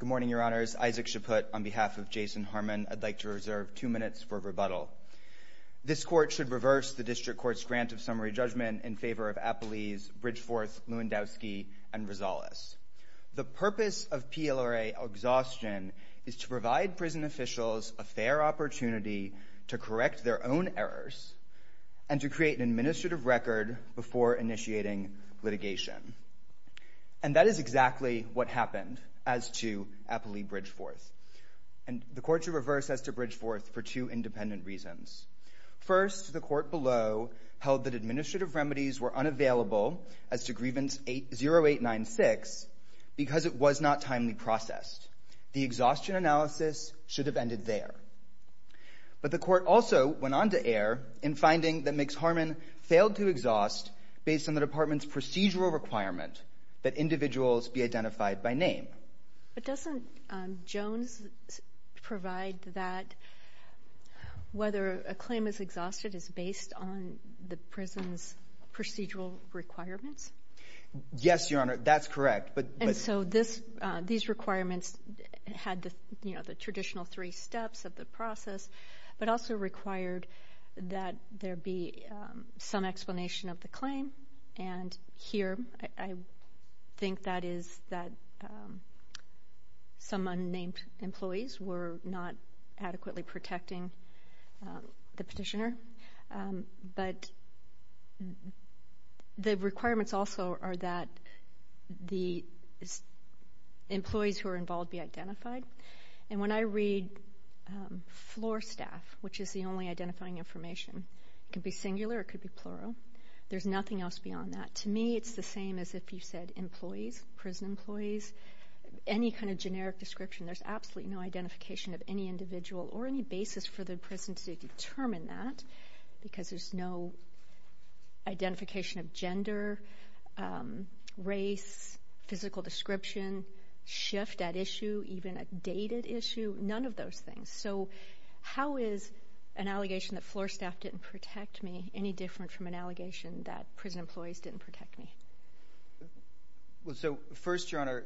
Good morning, Your Honors. Isaac Shaput, on behalf of Jason Harmon, I'd like to reserve two minutes for rebuttal. This Court should reverse the District Court's grant of summary judgment in favor of Appley's, Bridgeforth's, Lewandowski's, and Rosales'. The purpose of PLRA exhaustion is to provide prison officials a fair opportunity to correct their own errors and to create an administrative record before initiating litigation. And that is exactly what happened as to Appley-Bridgeforth. And the Court should reverse as to Bridgeforth for two independent reasons. First, the Court below held that administrative remedies were unavailable as to Grievance 0896 because it was not timely processed. The exhaustion analysis should have ended there. But the Court also went on to err in finding that Mix Harmon failed to exhaust based on the Department's procedural requirement that whether a claim is exhausted is based on the prison's procedural requirements. Yes, Your Honor, that's correct. And so these requirements had the traditional three steps of the process, but also required that there be some explanation of the claim. And here I think that is that some unnamed employees were not adequately protecting the petitioner. But the requirements also are that the employees who are involved be identified. And when I read floor staff, which is the only identifying information, it could be singular, it could be plural, there's nothing else beyond that. To me, it's the same as if you said employees, prison employees, any kind of generic description. There's absolutely no identification of any individual or any basis for the prison to determine that because there's no identification of gender, race, physical description, shift at issue, even a dated issue, none of those things. So how is an allegation that floor staff didn't protect me any different from an allegation that prison employees didn't protect me? Well, so first, Your Honor,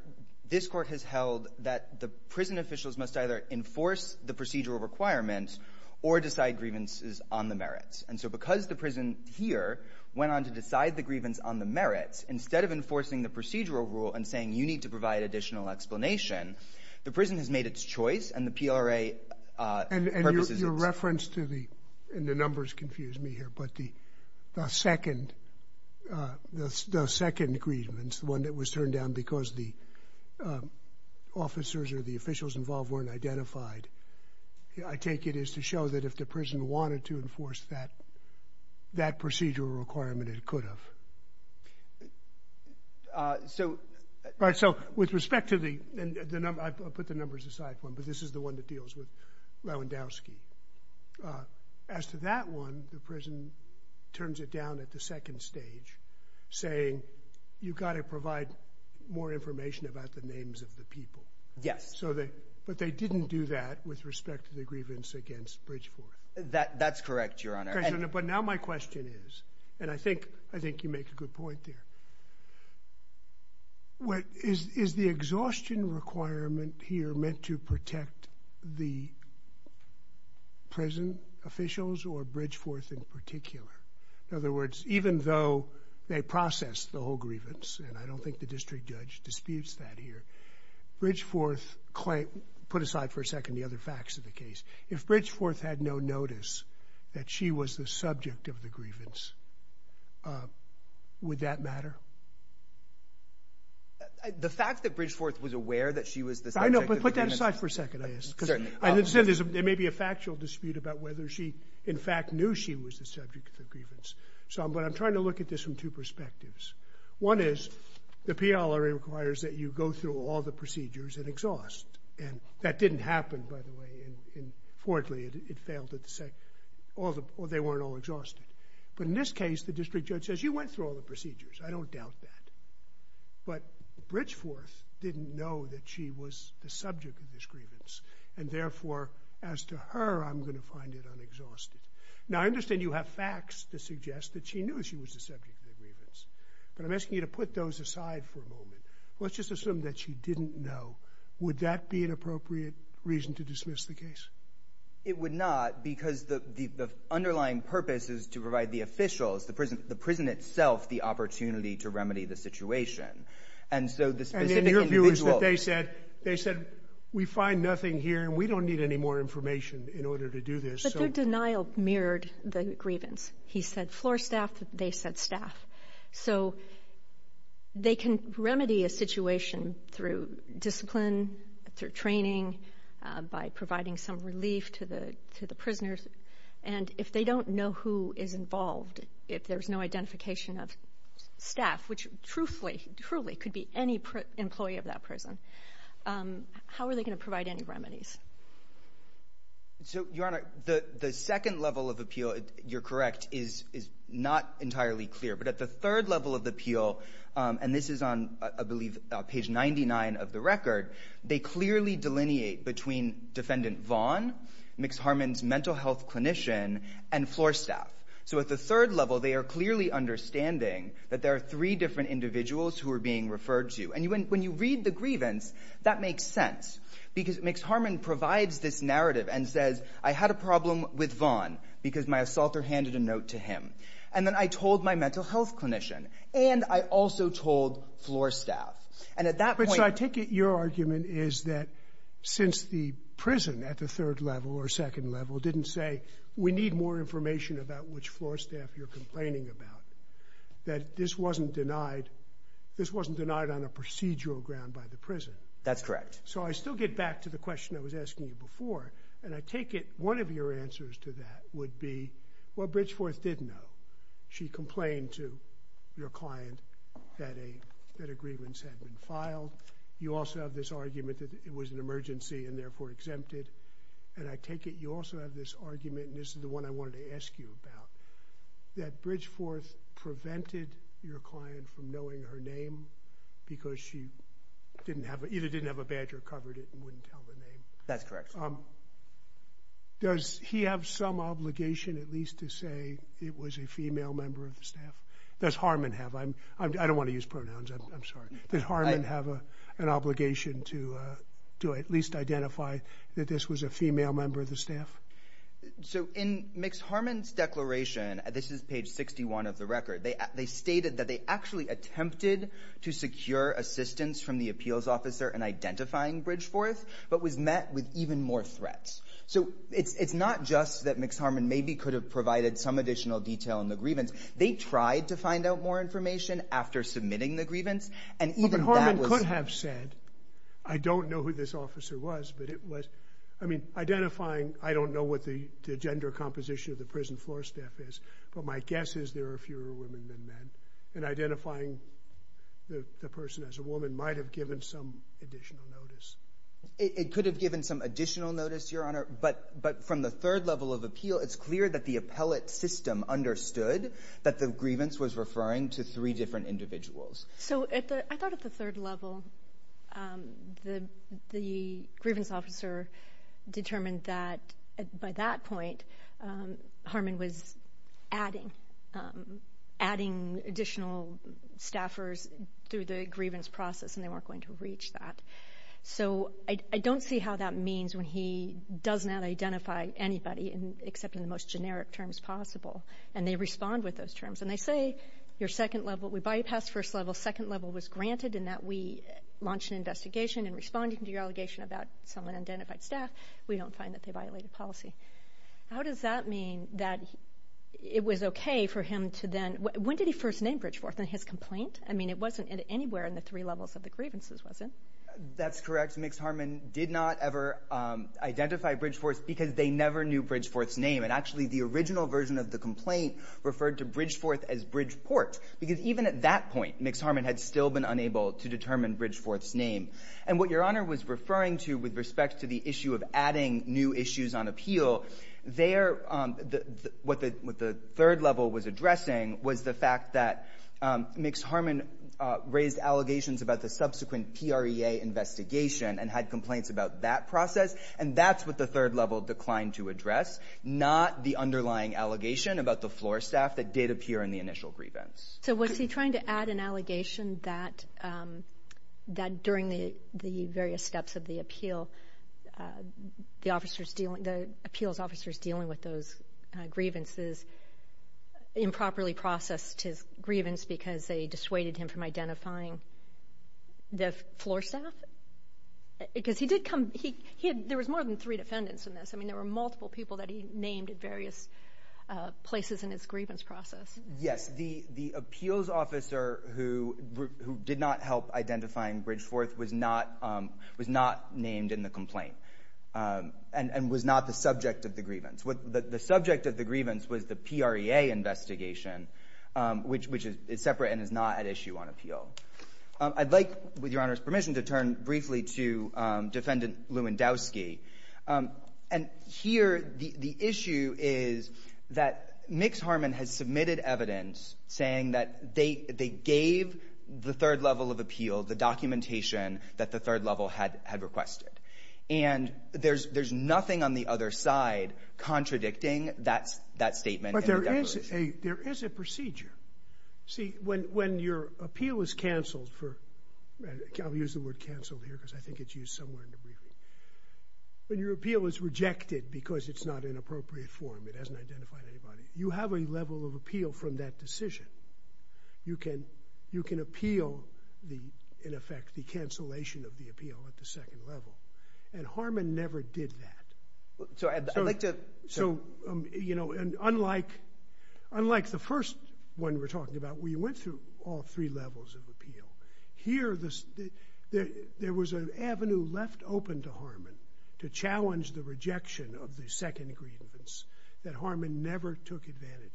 this Court has held that the prison officials must either enforce the procedural requirement or decide grievances on the merits. And so because the prison here went on to decide the grievance on the merits, instead of enforcing the procedural rule and saying you need to provide additional explanation, the prison has made its choice and the PRA purposes it to. And your reference to the, and the numbers confuse me here, but the second, the second grievance, the one that was turned down because the officers or the officials involved weren't identified, I take it is to show that if the prison wanted to enforce that, that procedural requirement it could have. So... Right. So with respect to the, and the number, I put the numbers aside for him, but this is the one that deals with Lewandowski. As to that one, the prison turns it down at the second stage saying you've got to provide more information about the names of the people. Yes. So they, but they didn't do that with respect to the grievance against Bridgeforth. That's correct, Your Honor. But now my question is, and I think, I think you make a good point there. What is, is the exhaustion requirement here meant to protect the prison officials or Bridgeforth in particular? In other words, even though they process the whole grievance, and I don't think the district judge disputes that here, Bridgeforth claim, put aside for a second the other facts of the case. If Bridgeforth had no notice that she was the subject of the grievance, would that matter? The fact that Bridgeforth was aware that she was the subject of the grievance... I know, but put that aside for a second, I ask. Certainly. Because I understand there may be a factual dispute about whether she in fact knew she was the subject of the grievance. So, but I'm trying to look at this from two perspectives. One is the PLRA requires that you go through all the procedures and exhaust. And that didn't happen, by the way, in Fort Lee. It failed at the second, all the, they weren't all exhausted. But in this case, the district judge says, you went through all the procedures. I don't doubt that. But Bridgeforth didn't know that she was the subject of this grievance. And therefore, as to her, I'm going to find it unexhausted. Now I understand you have facts to suggest that she knew she was the subject of the grievance. But I'm asking you to put those aside for a moment. Let's just assume that she didn't know. Would that be an appropriate reason to dismiss the case? It would not, because the underlying purpose is to provide the officials, the prison itself, the opportunity to remedy the situation. And so the specific individual... And then your view is that they said, they said, we find nothing here and we don't need any more information in order to do this. But their denial mirrored the grievance. He said floor staff, they said staff. So they can remedy a situation through discipline, through training, by providing some relief to the prisoners. And if they don't know who is involved, if there's no identification of staff, which truthfully, truly could be any employee of that prison, how are they going to provide any remedies? So Your Honor, the second level of appeal, you're correct, is not entirely clear. But the third level of appeal, and this is on, I believe, page 99 of the record, they clearly delineate between Defendant Vaughn, Mix-Harmon's mental health clinician, and floor staff. So at the third level, they are clearly understanding that there are three different individuals who are being referred to. And when you read the grievance, that makes sense. Because Mix-Harmon provides this narrative and says, I had a problem with Vaughn, because my assaulter handed a note to him. And then I told my mental health clinician. And I also told floor staff. And at that point... So I take it your argument is that since the prison at the third level or second level didn't say, we need more information about which floor staff you're complaining about, that this wasn't denied, this wasn't denied on a procedural ground by the prison. That's correct. So I still get back to the question I was asking you before. And I take it one of your clients did know. She complained to your client that a grievance had been filed. You also have this argument that it was an emergency and therefore exempted. And I take it you also have this argument, and this is the one I wanted to ask you about, that Bridgeforth prevented your client from knowing her name because she either didn't have a badge or covered it and wouldn't tell the name. That's correct. Does he have some obligation at least to say it was a female member of the staff? Does Harmon have? I don't want to use pronouns. I'm sorry. Does Harmon have an obligation to at least identify that this was a female member of the staff? So in Mix Harmon's declaration, this is page 61 of the record, they stated that they actually attempted to secure assistance from the appeals officer in identifying Bridgeforth, but was met with even more threats. So it's not just that Mix Harmon maybe could have provided some additional detail in the grievance. They tried to find out more information after submitting the grievance. But Harmon could have said, I don't know who this officer was, but it was, I mean, identifying, I don't know what the gender composition of the prison floor staff is, but my guess is there are fewer women than men. And identifying the person as a woman might have given some additional notice. It could have given some additional notice, Your Honor. But from the third level of appeal, it's clear that the appellate system understood that the grievance was referring to three different individuals. So I thought at the third level, the grievance officer determined that by that point, Harmon was adding additional staffers through the grievance process, and they weren't going to reach that. So I don't see how that means when he does not identify anybody, except in the most generic terms possible, and they respond with those terms. And they say your second level, we bypassed first level, second level was granted in that we launched an investigation in responding to your allegation about someone identified staff. We don't find that they violated policy. How does that mean that it was okay for him to then, when did he first name Bridgeforth in his complaint? I mean, it wasn't anywhere in the three levels of the grievances, was it? That's correct. Mixed Harmon did not ever identify Bridgeforth because they never knew Bridgeforth's name. And actually, the original version of the complaint referred to Bridgeforth as Bridgeport, because even at that point, Mixed Harmon had still been unable to determine Bridgeforth's name. And what Your Honor was referring to with respect to the issue of adding new issues on appeal, what the third level was addressing was the fact that Mixed Harmon raised allegations about the subsequent PREA investigation and had complaints about that process. And that's what the third level declined to address, not the underlying allegation about the floor staff that did appear in the initial grievance. So was he trying to add an allegation that during the various steps of the appeal, the appeals officers dealing with those grievances improperly processed his grievance because they dissuaded him from identifying the floor staff? Because he did come, there was more than three defendants in this. I mean, there were multiple people that he named at various places in his grievance process. Yes. The appeals officer who did not help identifying Bridgeforth was not named in the third level of the appeal. And that's not the subject of the grievance. The subject of the grievance was the PREA investigation, which is separate and is not at issue on appeal. I'd like, with Your Honor's permission, to turn briefly to Defendant Lewandowski. And here the issue is that Mixed Harmon has submitted evidence saying that they gave the third level of appeal the documentation that the third level had requested. And there's nothing on the other side contradicting that statement. But there is a procedure. See, when your appeal is canceled for, I'll use the word canceled here because I think it's used somewhere in the briefing, when your appeal is rejected because it's not in appropriate form, it hasn't identified anybody, you have a level of appeal from that decision. You can appeal, in effect, the cancellation of the appeal at the second level. And Harmon never did that. So I'd like to... So, you know, unlike the first one we're talking about where you went through all three levels of appeal, here there was an avenue left open to Harmon to challenge the rejection of the second grievance that Harmon never took advantage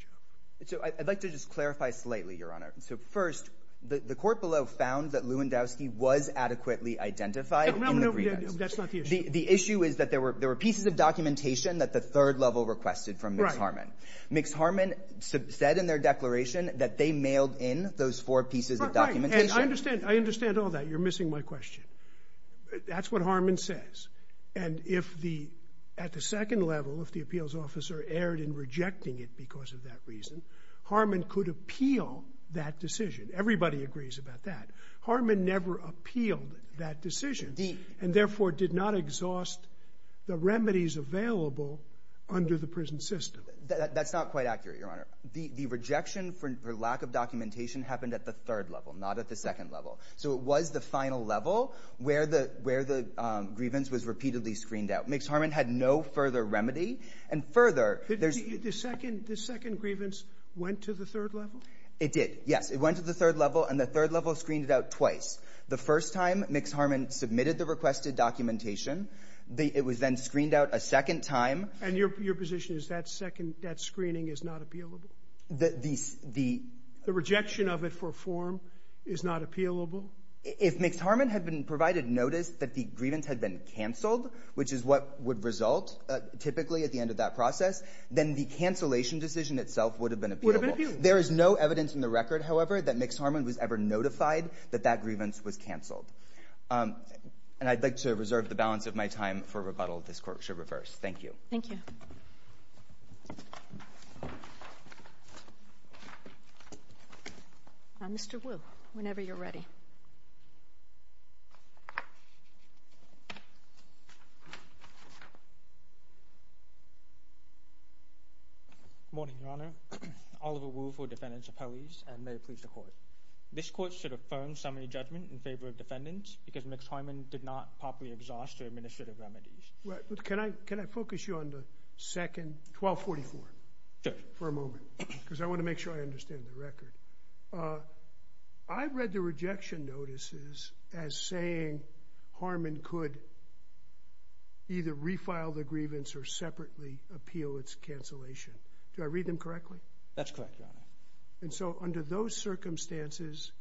of. So I'd like to just clarify slightly, Your Honor. So first, the court below found that Lewandowski was adequately identified in the grievance. No, that's not the issue. The issue is that there were pieces of documentation that the third level requested from Mixed Harmon. Right. Mixed Harmon said in their declaration that they mailed in those four pieces of documentation. I understand all that. You're missing my question. That's what Harmon says. And if at the second level, if the appeals officer erred in rejecting it because of that reason, Harmon could appeal that decision. Everybody agrees about that. Harmon never appealed that decision. Indeed. And therefore did not exhaust the remedies available under the prison system. That's not quite accurate, Your Honor. The rejection for lack of documentation happened at the third level, not at the second level. So it was the final level where the grievance was repeatedly screened out. Mixed Harmon had no further remedy. And further, there's... The second grievance went to the third level? It did, yes. It went to the third level, and the third level screened it out twice. The first time, Mixed Harmon submitted the requested documentation. It was then screened out a second time. And your position is that screening is not appealable? The... The rejection of it for form is not appealable? If Mixed Harmon had been provided notice that the grievance had been canceled, which is what would result typically at the end of that process, then the cancellation decision itself would have been appealable. There is no evidence in the record, however, that Mixed Harmon was ever notified that that grievance was canceled. And I'd like to reserve the balance of my time for rebuttal. This Court should reverse. Thank you. Thank you. Mr. Wu, whenever you're ready. Thank you. Good morning, Your Honor. Oliver Wu for Defendants Appellees, and may it please the Court. This Court should affirm summary judgment in favor of defendants because Mixed Harmon did not properly exhaust their administrative remedies. Can I focus you on the second 1244? Sure. For a moment, because I want to make sure I understand the record. I read the rejection notices as saying Harmon could either refile the grievance or separately appeal its cancellation. Do I read them correctly? That's correct, Your Honor. And so under those circumstances,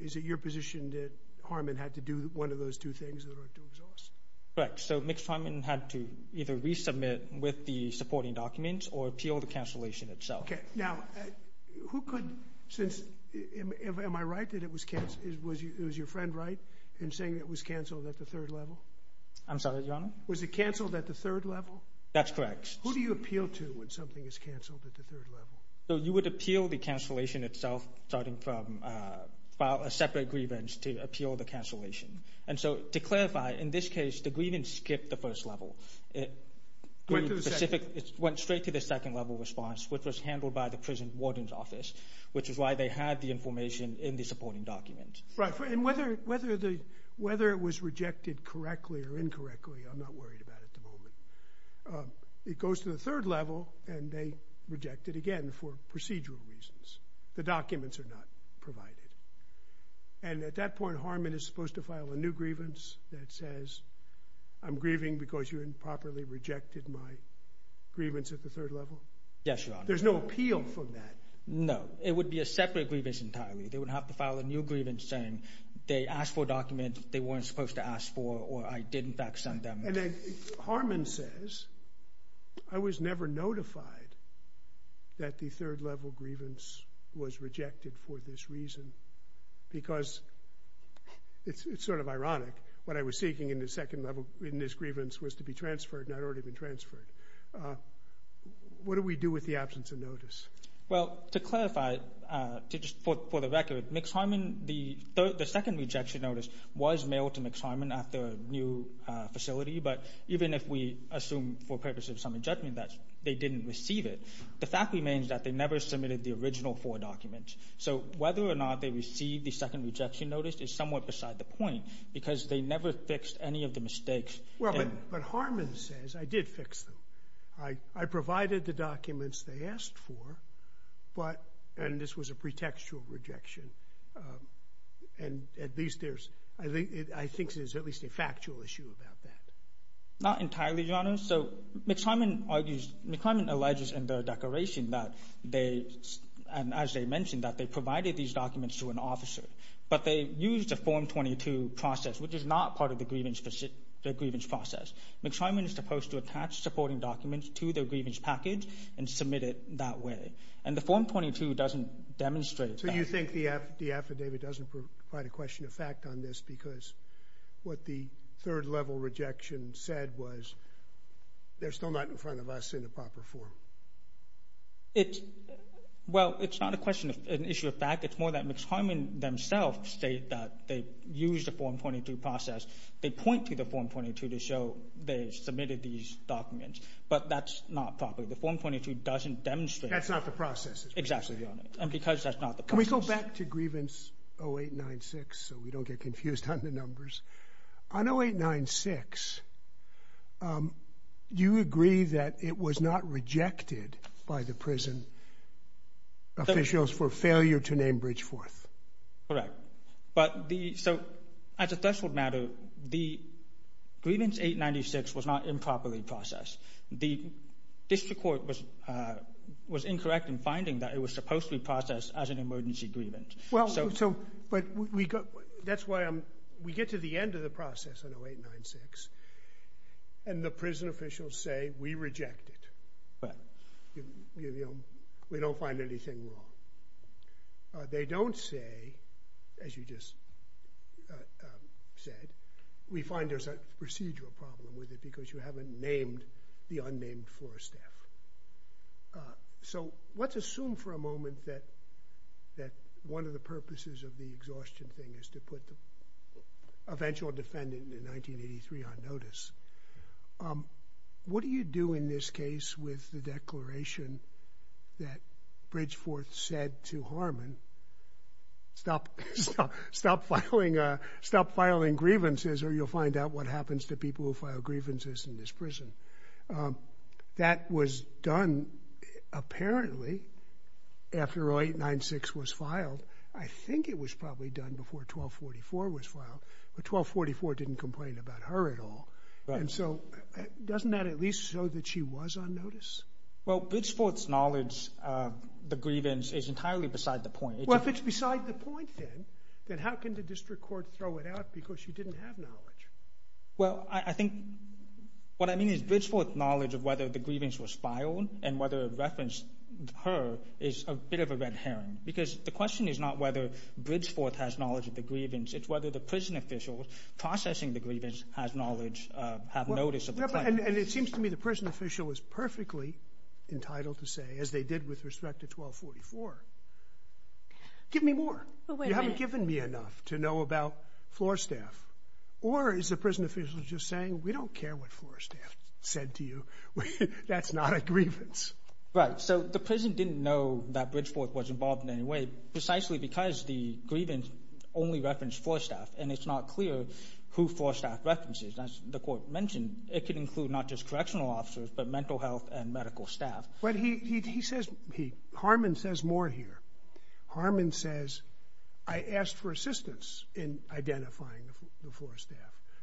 is it your position that Harmon had to do one of those two things that are to exhaust? Correct. So Mixed Harmon had to either resubmit with the supporting document or appeal the cancellation itself. Okay. Now, who could, since, am I right that it was cancelled? Was your friend right in saying it was cancelled at the third level? I'm sorry, Your Honor? Was it cancelled at the third level? That's correct. Who do you appeal to when something is cancelled at the third level? So you would appeal the cancellation itself starting from file a separate grievance to appeal the cancellation. And so to clarify, in this case, the grievance skipped the first level. It went straight to the second level response, which was handled by the prison warden's office, which is why they had the information in the supporting document. Right. And whether it was rejected correctly or incorrectly, I'm not worried about it at the moment. It goes to the third level and they reject it again for procedural reasons. The documents are not provided. And at that point, Harmon is supposed to file a new grievance that says, I'm grieving because you improperly rejected my grievance at the third level? Yes, Your Honor. There's no appeal for that? No. It would be a separate grievance entirely. They would have to file a new grievance saying they asked for a document they weren't supposed to ask for or I did, in fact, send them. And then Harmon says, I was never notified that the third level grievance was rejected for this reason because, it's sort of ironic, what I was seeking in the second level in this grievance was to be transferred and I'd already been transferred. What do we do with the absence of notice? Well, to clarify, just for the record, the second rejection notice was mailed to Mixed Harmon at their new facility. But even if we assume for purposes of summary judgment that they didn't receive it, the fact remains that they never submitted the original four documents. So whether or not they received the second rejection notice is somewhat beside the point because they never fixed any of the mistakes. Well, but Harmon says, I did fix them. I provided the documents they asked for but, and this was a pretextual rejection, and at least there's, I think there's at least a factual issue about that. Not entirely, Your Honor. So, Mixed Harmon argues, Mixed Harmon alleges in the declaration that they, and as they mentioned, that they provided these documents to an officer. But they used a Form 22 process, which is not part of the grievance process. Mixed Harmon is supposed to attach supporting documents to their grievance package and submit it that way. And the Form 22 doesn't demonstrate that. So you think the affidavit doesn't provide a question of fact on this because what the third level rejection said was they're still not in front of us in a proper form. It's, well, it's not a question, an issue of fact. It's more that Mixed Harmon themselves state that they used a Form 22 process. They point to the Form 22 to show they submitted these documents. But that's not proper. The Form 22 doesn't demonstrate... That's not the process. Exactly, Your Honor. And because that's not the process... Can we go back to grievance 0896 so we don't get confused on the numbers? On 0896, do you agree that it was not rejected by the prison officials for failure to name Bridgeforth? Correct. But the... So as a threshold matter, the grievance 0896 was not improperly processed. The district court was incorrect in finding that it was supposed to be processed as an emergency grievance. Well, so... But we... That's why I'm... We get to the end of the process on 0896. And the prison officials say, we reject it. Right. We don't find anything wrong. They don't say, as you just said, we find there's a procedural problem with it because you haven't named the unnamed floor staff. So let's assume for a moment that one of the purposes of the exhaustion thing is to put the eventual defendant in 1983 on notice. What do you do in this case with the declaration that Bridgeforth said to Harmon, stop... stop filing... stop filing grievances, or you'll find out what happens to people who file grievances in this prison. That was done, apparently, after 0896 was filed. I think it was probably done before 1244 was filed. But 1244 didn't complain about her at all. And so doesn't that at least show that she was on notice? Well, Bridgeforth's knowledge of the grievance is entirely beside the point. Well, if it's beside the point, then, then how can the district court throw it out because she didn't have knowledge? Well, I think... What I mean is Bridgeforth's knowledge of whether the grievance was filed and whether it referenced her is a bit of a red herring. Because the question is not whether Bridgeforth has knowledge of the grievance. It's whether the prison official processing the grievance has knowledge, have notice of the claim. And it seems to me the prison official is perfectly entitled to say, as they did with respect to 1244, give me more. You haven't given me enough to know about floor staff. Or is the prison official just saying, we don't care what floor staff said to you. That's not a grievance. Right. So the prison didn't know that Bridgeforth was involved in any way precisely because the grievance only referenced floor staff. And it's not clear who floor staff references. As the court mentioned, it could include not just correctional officers, but mental health and medical staff. But he, he says, Harman says more here. Harman says, I asked for assistance in identifying the floor staff.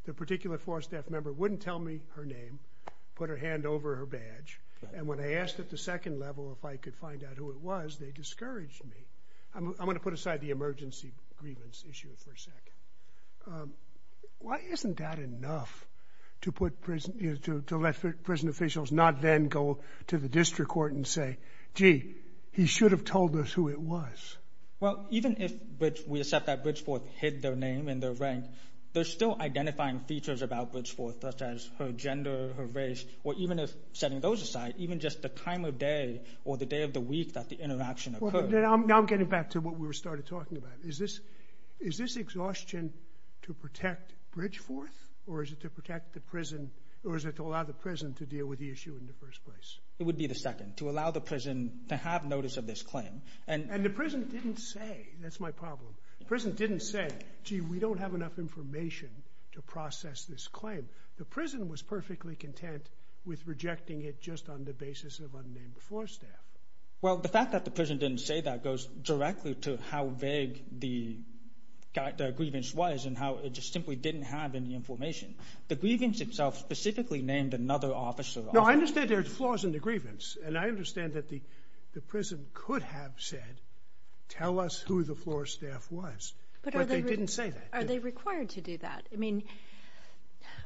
The particular floor staff member wouldn't tell me her name, put her hand over her badge. And when I asked at the second level if I could find out who it was, they discouraged me. I'm going to put aside the emergency grievance issue for a second. Why isn't that enough to put prison, to let prison officials not then go to the district court and say, gee, he should have told us who it was. Well, even if we accept that Bridgeforth hid their name and their rank, they're still identifying features about Bridgeforth such as her gender, her race, or even if setting those aside, even just the time of day or the day of the week that the interaction occurred. Now I'm getting back to what we started talking about. Is this, is this exhaustion to protect Bridgeforth or is it to protect the prison or is it to allow the prison to deal with the issue in the first place? It would be the second, to allow the prison to have notice of this claim. And the prison didn't say, that's my problem. Prison didn't say, gee, we don't have enough information to process this claim. The prison was perfectly content with rejecting it just on the basis of unnamed floor staff. Well, the fact that the prison didn't say that goes directly to how vague the grievance was and how it just simply didn't have any information. The grievance itself specifically named another officer. No, I understand there's flaws in the grievance and I understand that the prison could have said, tell us who the floor staff was. But they didn't say that. Are they required to do that? I mean,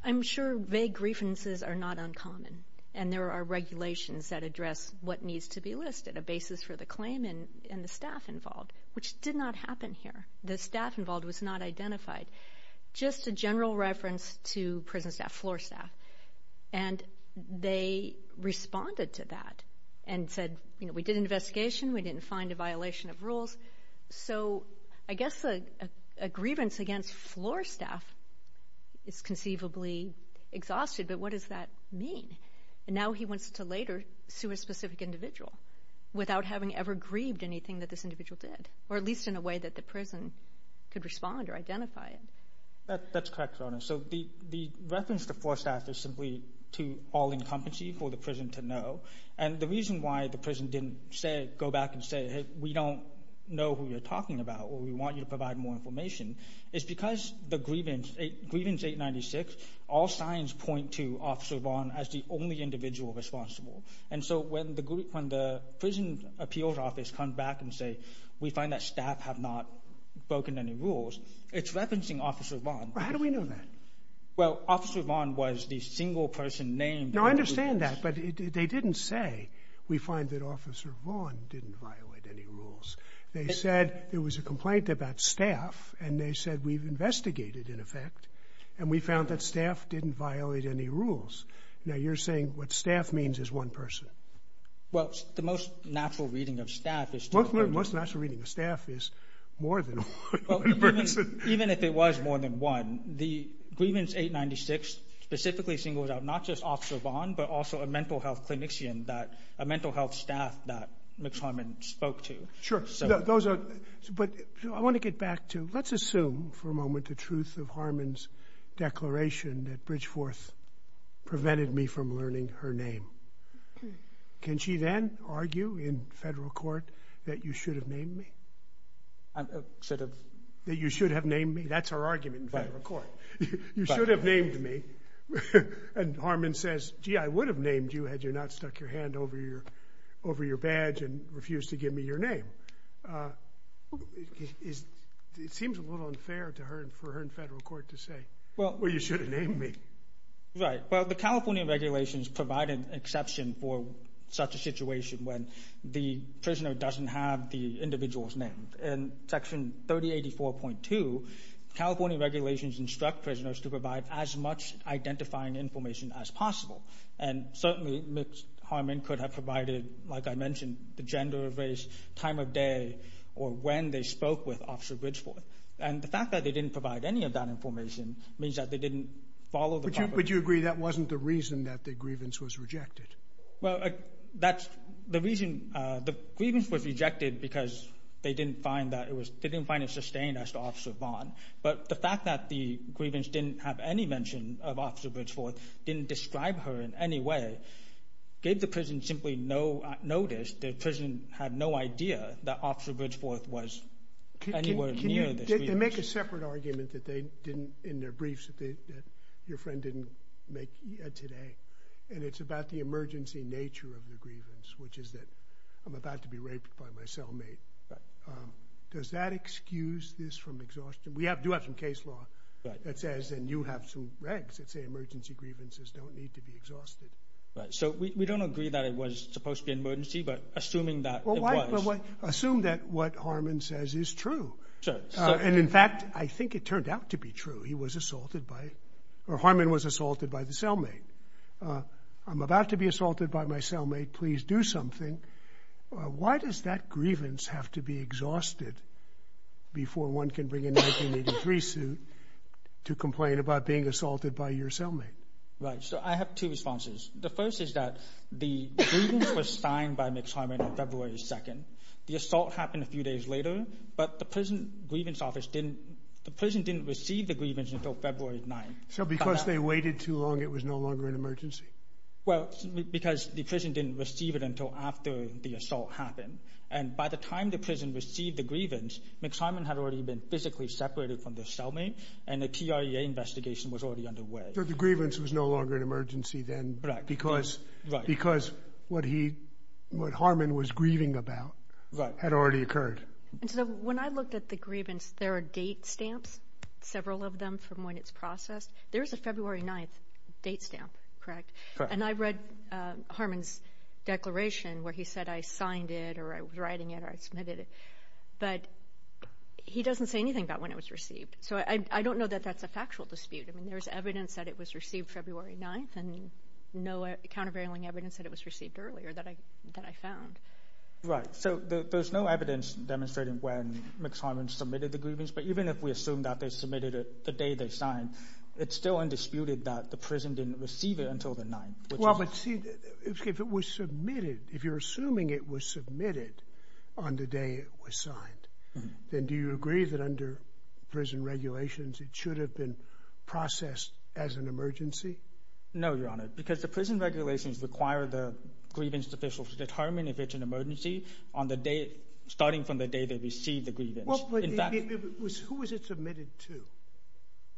I'm sure vague grievances are not uncommon. And there are regulations that address what needs to be listed. A basis for the claim and the staff involved. Which did not happen here. The staff involved was not identified. Just a general reference to prison staff, floor staff. And they responded to that and said, we did an investigation, we didn't find a violation of rules. So, I guess a grievance against floor staff is conceivably exhausted. But what does that mean? And now he wants to later sue a specific individual. Without having ever grieved anything that this individual did. Or at least in a way that the prison could respond or identify it. That's correct, Your Honor. So, the reference to floor staff is simply to all incumbency for the prison to know. And the reason why the prison didn't go back and say, hey, we don't know who you're talking about or we want you to provide more information is because the grievance, grievance 896, all signs point to Officer Vaughn as the only individual responsible. And so, when the prison appeals office comes back and say, we find that staff have not broken any rules, it's referencing Officer Vaughn. How do we know that? Well, Officer Vaughn was the single person named. No, I understand that. But they didn't say, we find that Officer Vaughn didn't violate any rules. They said, there was a complaint about staff and they said, we've investigated, in effect. And we found that staff didn't violate any rules. Now, you're saying what staff means is one person. Well, the most natural reading of staff is... Most natural reading of staff is more than one person. Even if it was more than one, the grievance 896 specifically singles out not just Officer Vaughn, but also a mental health clinician that, a mental health staff that Ms. Harmon spoke to. Sure. Those are, but I want to get back to, let's assume for a moment the truth of Harmon's declaration that Bridgeforth prevented me from learning her name. Can she then argue in federal court that you should have named me? Sort of. That you should have named me? That's her argument in federal court. You should have named me. And Harmon says, gee, I would have named you had you not stuck your hand over your, over your badge and refused to give me your name. It seems a little unfair to her and for her in federal court to say, well, you should have named me. Right. Well, the California regulations provide an exception for such a situation when the prisoner doesn't have the individual's name. In Section 3084.2, California regulations instruct prisoners to provide as much identifying information as possible. And certainly Ms. Harmon could have provided, like I mentioned, the gender of race, time of day, or when they spoke with Officer Bridgeforth. And the fact that they didn't provide any of that information means that they didn't follow the proper... But you agree that wasn't the reason that the grievance was rejected? Well, that's the reason the grievance was rejected because they didn't find that it was, they didn't find it sustained as to Officer Vaughn. But the fact that the grievance didn't have any mention of Officer Bridgeforth didn't describe her in any way gave the prison simply no notice. The prison had no idea that Officer Bridgeforth was anywhere near this grievance. Can you make a separate argument that they didn't, in their briefs, that your friend didn't make today and it's about the emergency nature of the grievance which is that I'm about to be raped by my cellmate. Right. Does that excuse this from exhaustion? We do have some case law that says and you have some regs that say emergency grievances don't need to be exhausted. Right. So we don't agree that it was supposed to be an emergency but assuming that it was. Assume that what Harmon says is true. And in fact I think it turned out to be true. He was assaulted by or Harmon was assaulted by the cellmate. I'm about to be assaulted by my cellmate. Please do something. Why does that grievance have to be exhausted before one can bring a 1983 suit to complain about being assaulted by your cellmate? Right. So I have two responses. The first is that the grievance was signed by the cellmate on February 2nd. The assault happened a few days later but the prison grievance office didn't the prison didn't receive the grievance until February 9th. So because they waited too long it was no longer an emergency? Well because the prison didn't receive it until after the assault happened and by the time the prison received the grievance Max Harmon had already been physically separated from the cellmate and the TREA investigation was already underway. So the grievance was no longer an emergency then because because what he what Harmon was grieving about had already occurred. And so when I looked at the grievance there are date stamps several of them from when it's processed. There's a February 9th date stamp correct? And I read Harmon's declaration where he said I signed it or I was writing it or I submitted it but he doesn't say anything about when it was received. So I don't know that that's a factual dispute. I mean there's evidence that it was received February 9th and no countervailing evidence that it was received earlier that I that I found. Right. So there's no evidence demonstrating when Max Harmon submitted the grievance but even if we assume that they submitted it the day they signed it's still undisputed that the prison didn't receive it until the 9th. Well but see if it was submitted if you're assuming it was submitted on the day it was signed then do you agree that under prison regulations it should have been processed as an emergency? No Your Honor because the prison regulations require the grievance officials to determine if it's an emergency on the day starting from the day they receive the grievance. Well but it was who was it submitted to?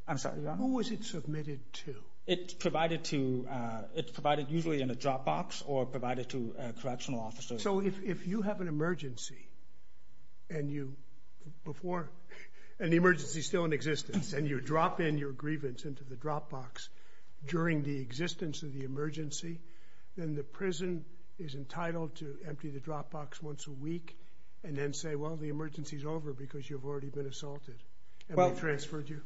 I'm sorry Your Honor. Who was it submitted to? It's provided to it's provided usually in a drop box or provided to correctional officers. So if you have an emergency and you before an emergency is still in existence and you drop in your grievance into the drop box during the existence of the emergency then the prison is entitled to empty the drop box once a week and then say well the emergency is over because you've already been assaulted and they transferred you?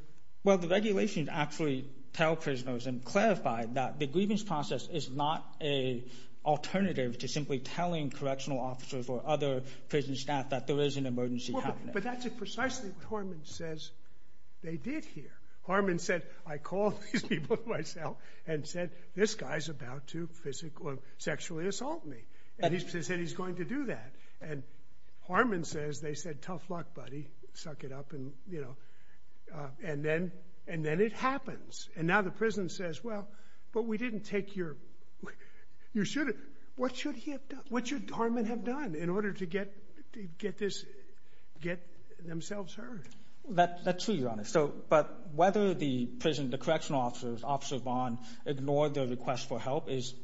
Well the regulations actually tell prisoners and clarify that the grievance process is not an alternative to simply telling correctional officers or other prison staff that there is an emergency happening. But that's precisely what Harman says they did here. Harman said I called these people myself and said this guy's about to physically or sexually assault me and he said he's going to do that and Harman says they said tough luck buddy suck it up and you know and then it happens and now the prison says well but we didn't take your you should have what should Harman have done in order to get themselves heard. That's true your honor but whether the correctional officers officer Vaughn ignored the request for help is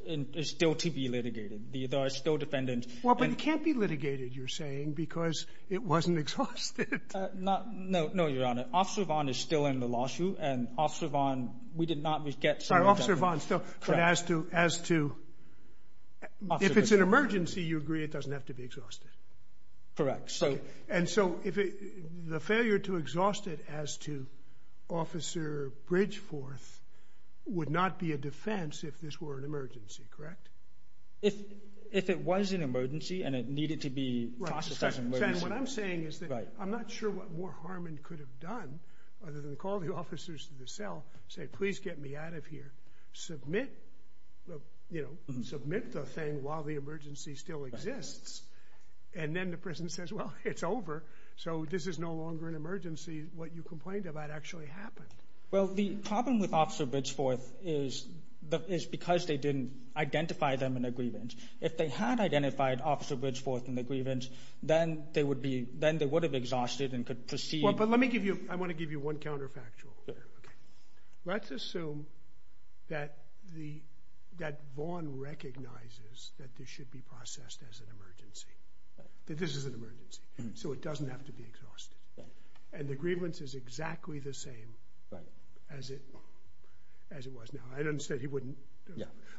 still to be litigated there are still defendants Well but it can't be litigated you're saying because it wasn't exhausted. No your honor officer Vaughn is still in the lawsuit and officer Vaughn we did not get some Sorry officer Vaughn as to if it's an emergency you agree it doesn't have to be exhausted correct and so the failure to exhaust it as to officer Bridgeforth would not be a defense if this were an emergency correct if if it was an emergency and it needed to be what I'm saying is that I'm not sure what more Harman could have done other than call the officers to the cell say please get me out of here submit you know submit the thing while the emergency still exists and then the prison says well it's over so this is no longer an emergency what you complained about actually happened well the problem with officer Bridgeforth is because they didn't identify them in the grievance if they had identified officer Bridgeforth in the grievance then they would have exhausted and could proceed well but let me give you I want to give you one counterfactual let's assume that the that Vaughn recognizes that this should be processed as an emergency that this is an emergency so it doesn't have to be exhausted and the grievance is exactly the same as it as it was now I understand he wouldn't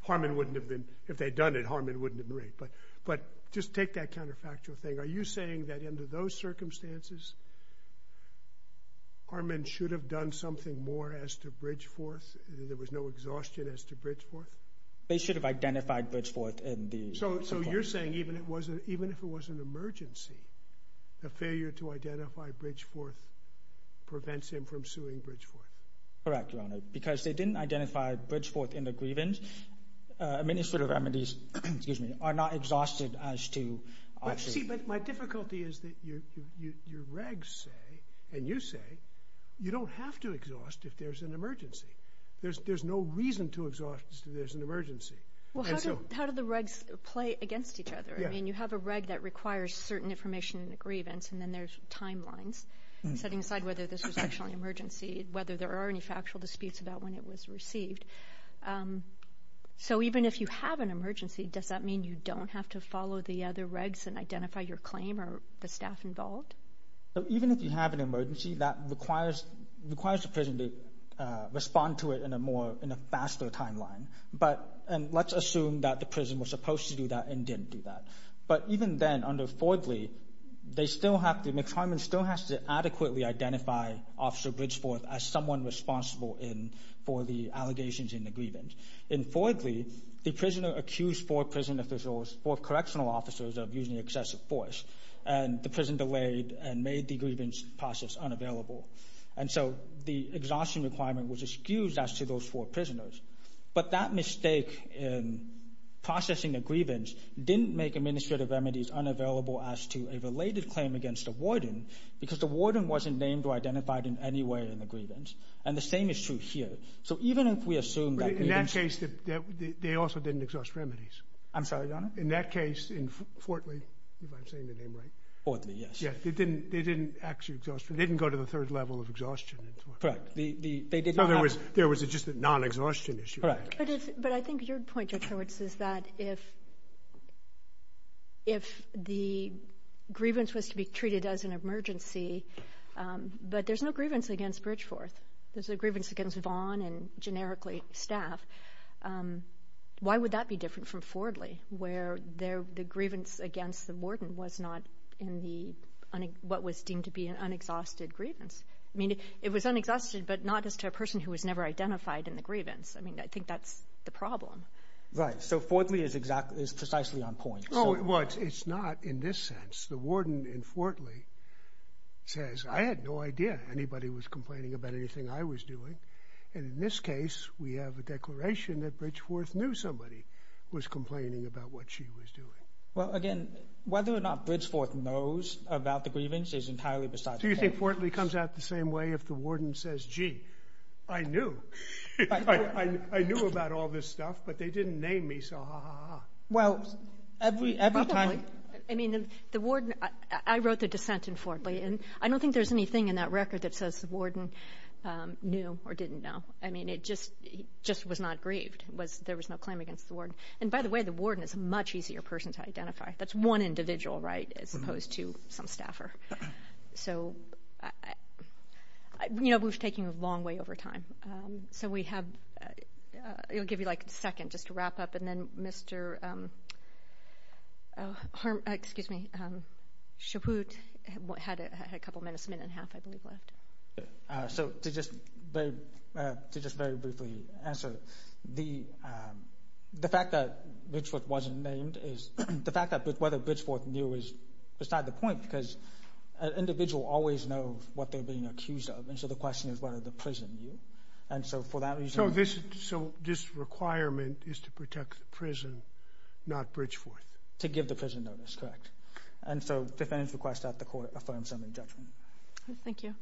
Harman wouldn't have been if they had done it Harman wouldn't have been right but but just take that counterfactual thing are you saying that under those circumstances Harman should have done something more as to Bridgeforth there was no exhaustion as to Bridgeforth they should have identified Bridgeforth in the so you're saying even it wasn't even if it was an emergency the failure to identify Bridgeforth prevents him from suing Bridgeforth correct your honor because they didn't identify Bridgeforth in the grievance many sort of remedies excuse me are not exhausted as to my difficulty is that your regs say and you say you don't have to exhaust if there's an emergency there's no reason to exhaust if there's an emergency how do the regs play against each other you have a reg that requires certain information in the grievance and then there's timelines setting aside whether this was actually an emergency whether there are any factual disputes about when it was received so even if you have an emergency does that mean you don't have to follow the other regs and identify your claim or the staff involved even if you have an emergency that requires requires the prison to respond to it in a more in a faster timeline but and let's assume that the prison was supposed to do that and didn't do that but even then under Fordley they still have to McCarmon still has to adequately identify Officer Bridgeforth as someone responsible in for the allegations in the grievance in Fordley the prisoner accused four prison officials four correctional officers of using excessive force and the prison delayed and made the grievance process unavailable and so the exhaustion requirement was excused as to those four prisoners but that mistake in processing a grievance didn't make administrative remedies unavailable as to a related claim against the warden because the warden wasn't named or identified in any way in the grievance and the same is true here so even if we assume that grievance in that case they also didn't exhaust remedies I'm sorry your honor in that case in Fordley if I'm saying the name right Fordley yes they didn't they didn't actually exhaust they didn't go to the third level of exhaustion correct they didn't have there was just a non-exhaustion issue but I think your point George is that if if the grievance was to be treated as an emergency but there's no grievance against Bridgeforth there's a grievance against Vaughan and generically staff why would that be different from Fordley where the grievance against the warden was not in the what was deemed to be an unexhausted grievance I mean it was unexhausted but not as to a person who was never identified in the grievance I mean I think that's the problem right so Fordley is exactly is precisely on point oh it's not in this sense the warden in Fordley says I had no idea anybody was there do you think Fordley comes out the same way if the warden says gee I knew I knew about all this stuff but they didn't name me so ha ha ha I mean the warden I wrote the dissent in Fordley and I don't think there's anything in that record that says the warden knew or didn't know I mean it just was not grieved there was no claim against the warden and by the way the warden is a much easier person to identify that's one individual right as opposed to some staffer so you know we were taking a long way over time so we have it will give you like a second just to wrap up and then Mr. oh excuse me Chabut had a couple minutes a minute and a half I believe left so to just very briefly answer the the fact that Bridgeforth wasn't named is the fact that whether Bridgeforth knew was beside the point because an individual always knows what they're being accused of and so the question is whether the prison knew and so reason so this requirement is to protect the prison not Bridgeforth to give the prison notice correct and so defendants request that the court this request thank you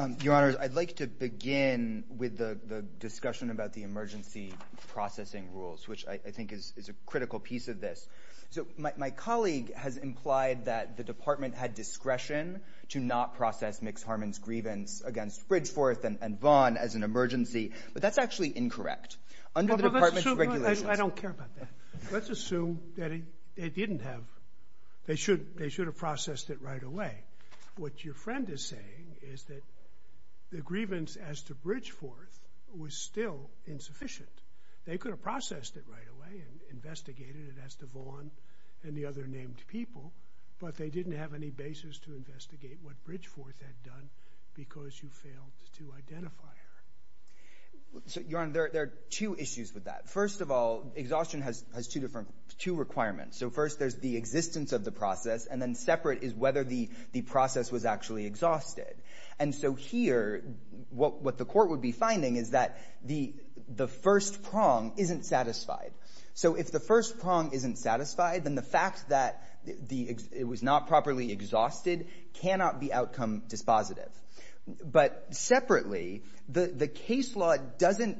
um your honor I'd like to begin with the discussion about the emergency processing which I think is a critical piece of this so my colleague has implied that the department had discretion to not process Mix Harman's grievance against Bridgeforth and Vaughn as an emergency but that's actually incorrect under the department's regulations I don't care about that let's assume that they didn't have they should they should have processed it right away what your friend is saying is that the grievance as to Bridgeforth was still insufficient they could have processed it right away investigated it as to Vaughn and the other named people but they didn't have any basis to investigate what Bridgeforth had done because you failed to identify her so your honor there are two issues with that first of all exhaustion has two different two requirements so first there's the existence of the first prong isn't satisfied so if the first prong isn't satisfied then the fact that it was not properly exhausted cannot be outcome dispositive but separately the case law doesn't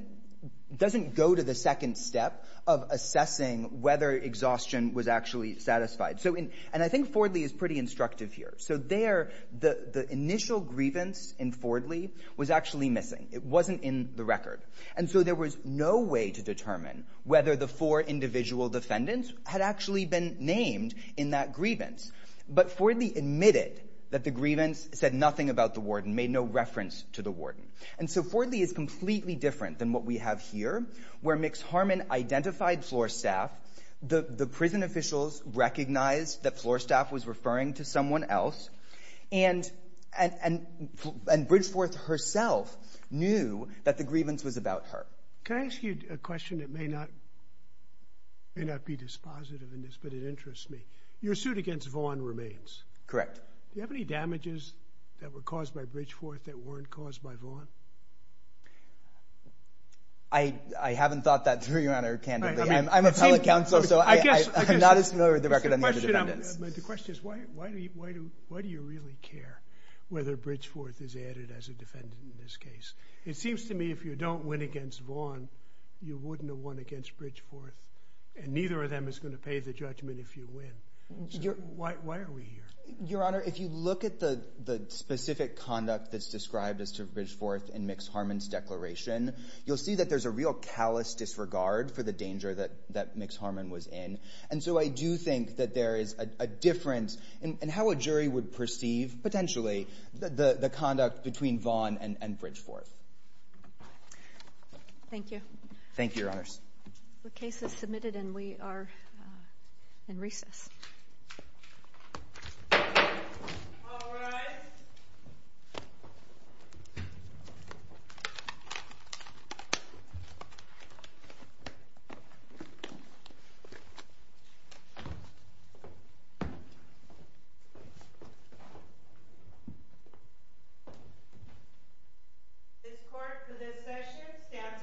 go to the second step of assessing whether exhaustion was actually satisfied and I think Fordley is pretty instructive here so there the initial grievance in Fordley was actually missing it wasn't in the record and so there was no way to determine whether the four individual defendants had actually been named in that grievance but Fordley admitted that the grievance said nothing about the grievance about anything else and Bridgeforth herself knew that the grievance was about her can I ask you a question that may not be dispositive but it interests me your suit against Vaughn remains correct do you have any why do you really care whether Bridgeforth is added as a defendant in this case it seems to me if you win against Vaughn you wouldn't have won against Bridgeforth and neither of them is going to pay the judgment if you win why are we here your honor if you look at the specific conduct that's described as to Bridgeforth and Mix Harman's declaration you'll see that there's a real callous disregard for the danger that Mix Harman was in and so I do think that there is a different and how a jury would perceive potentially the conduct between Vaughn and Bridgeforth thank you thank you your honors the case is submitted and we are in recess all rise this court for this session stands adjourned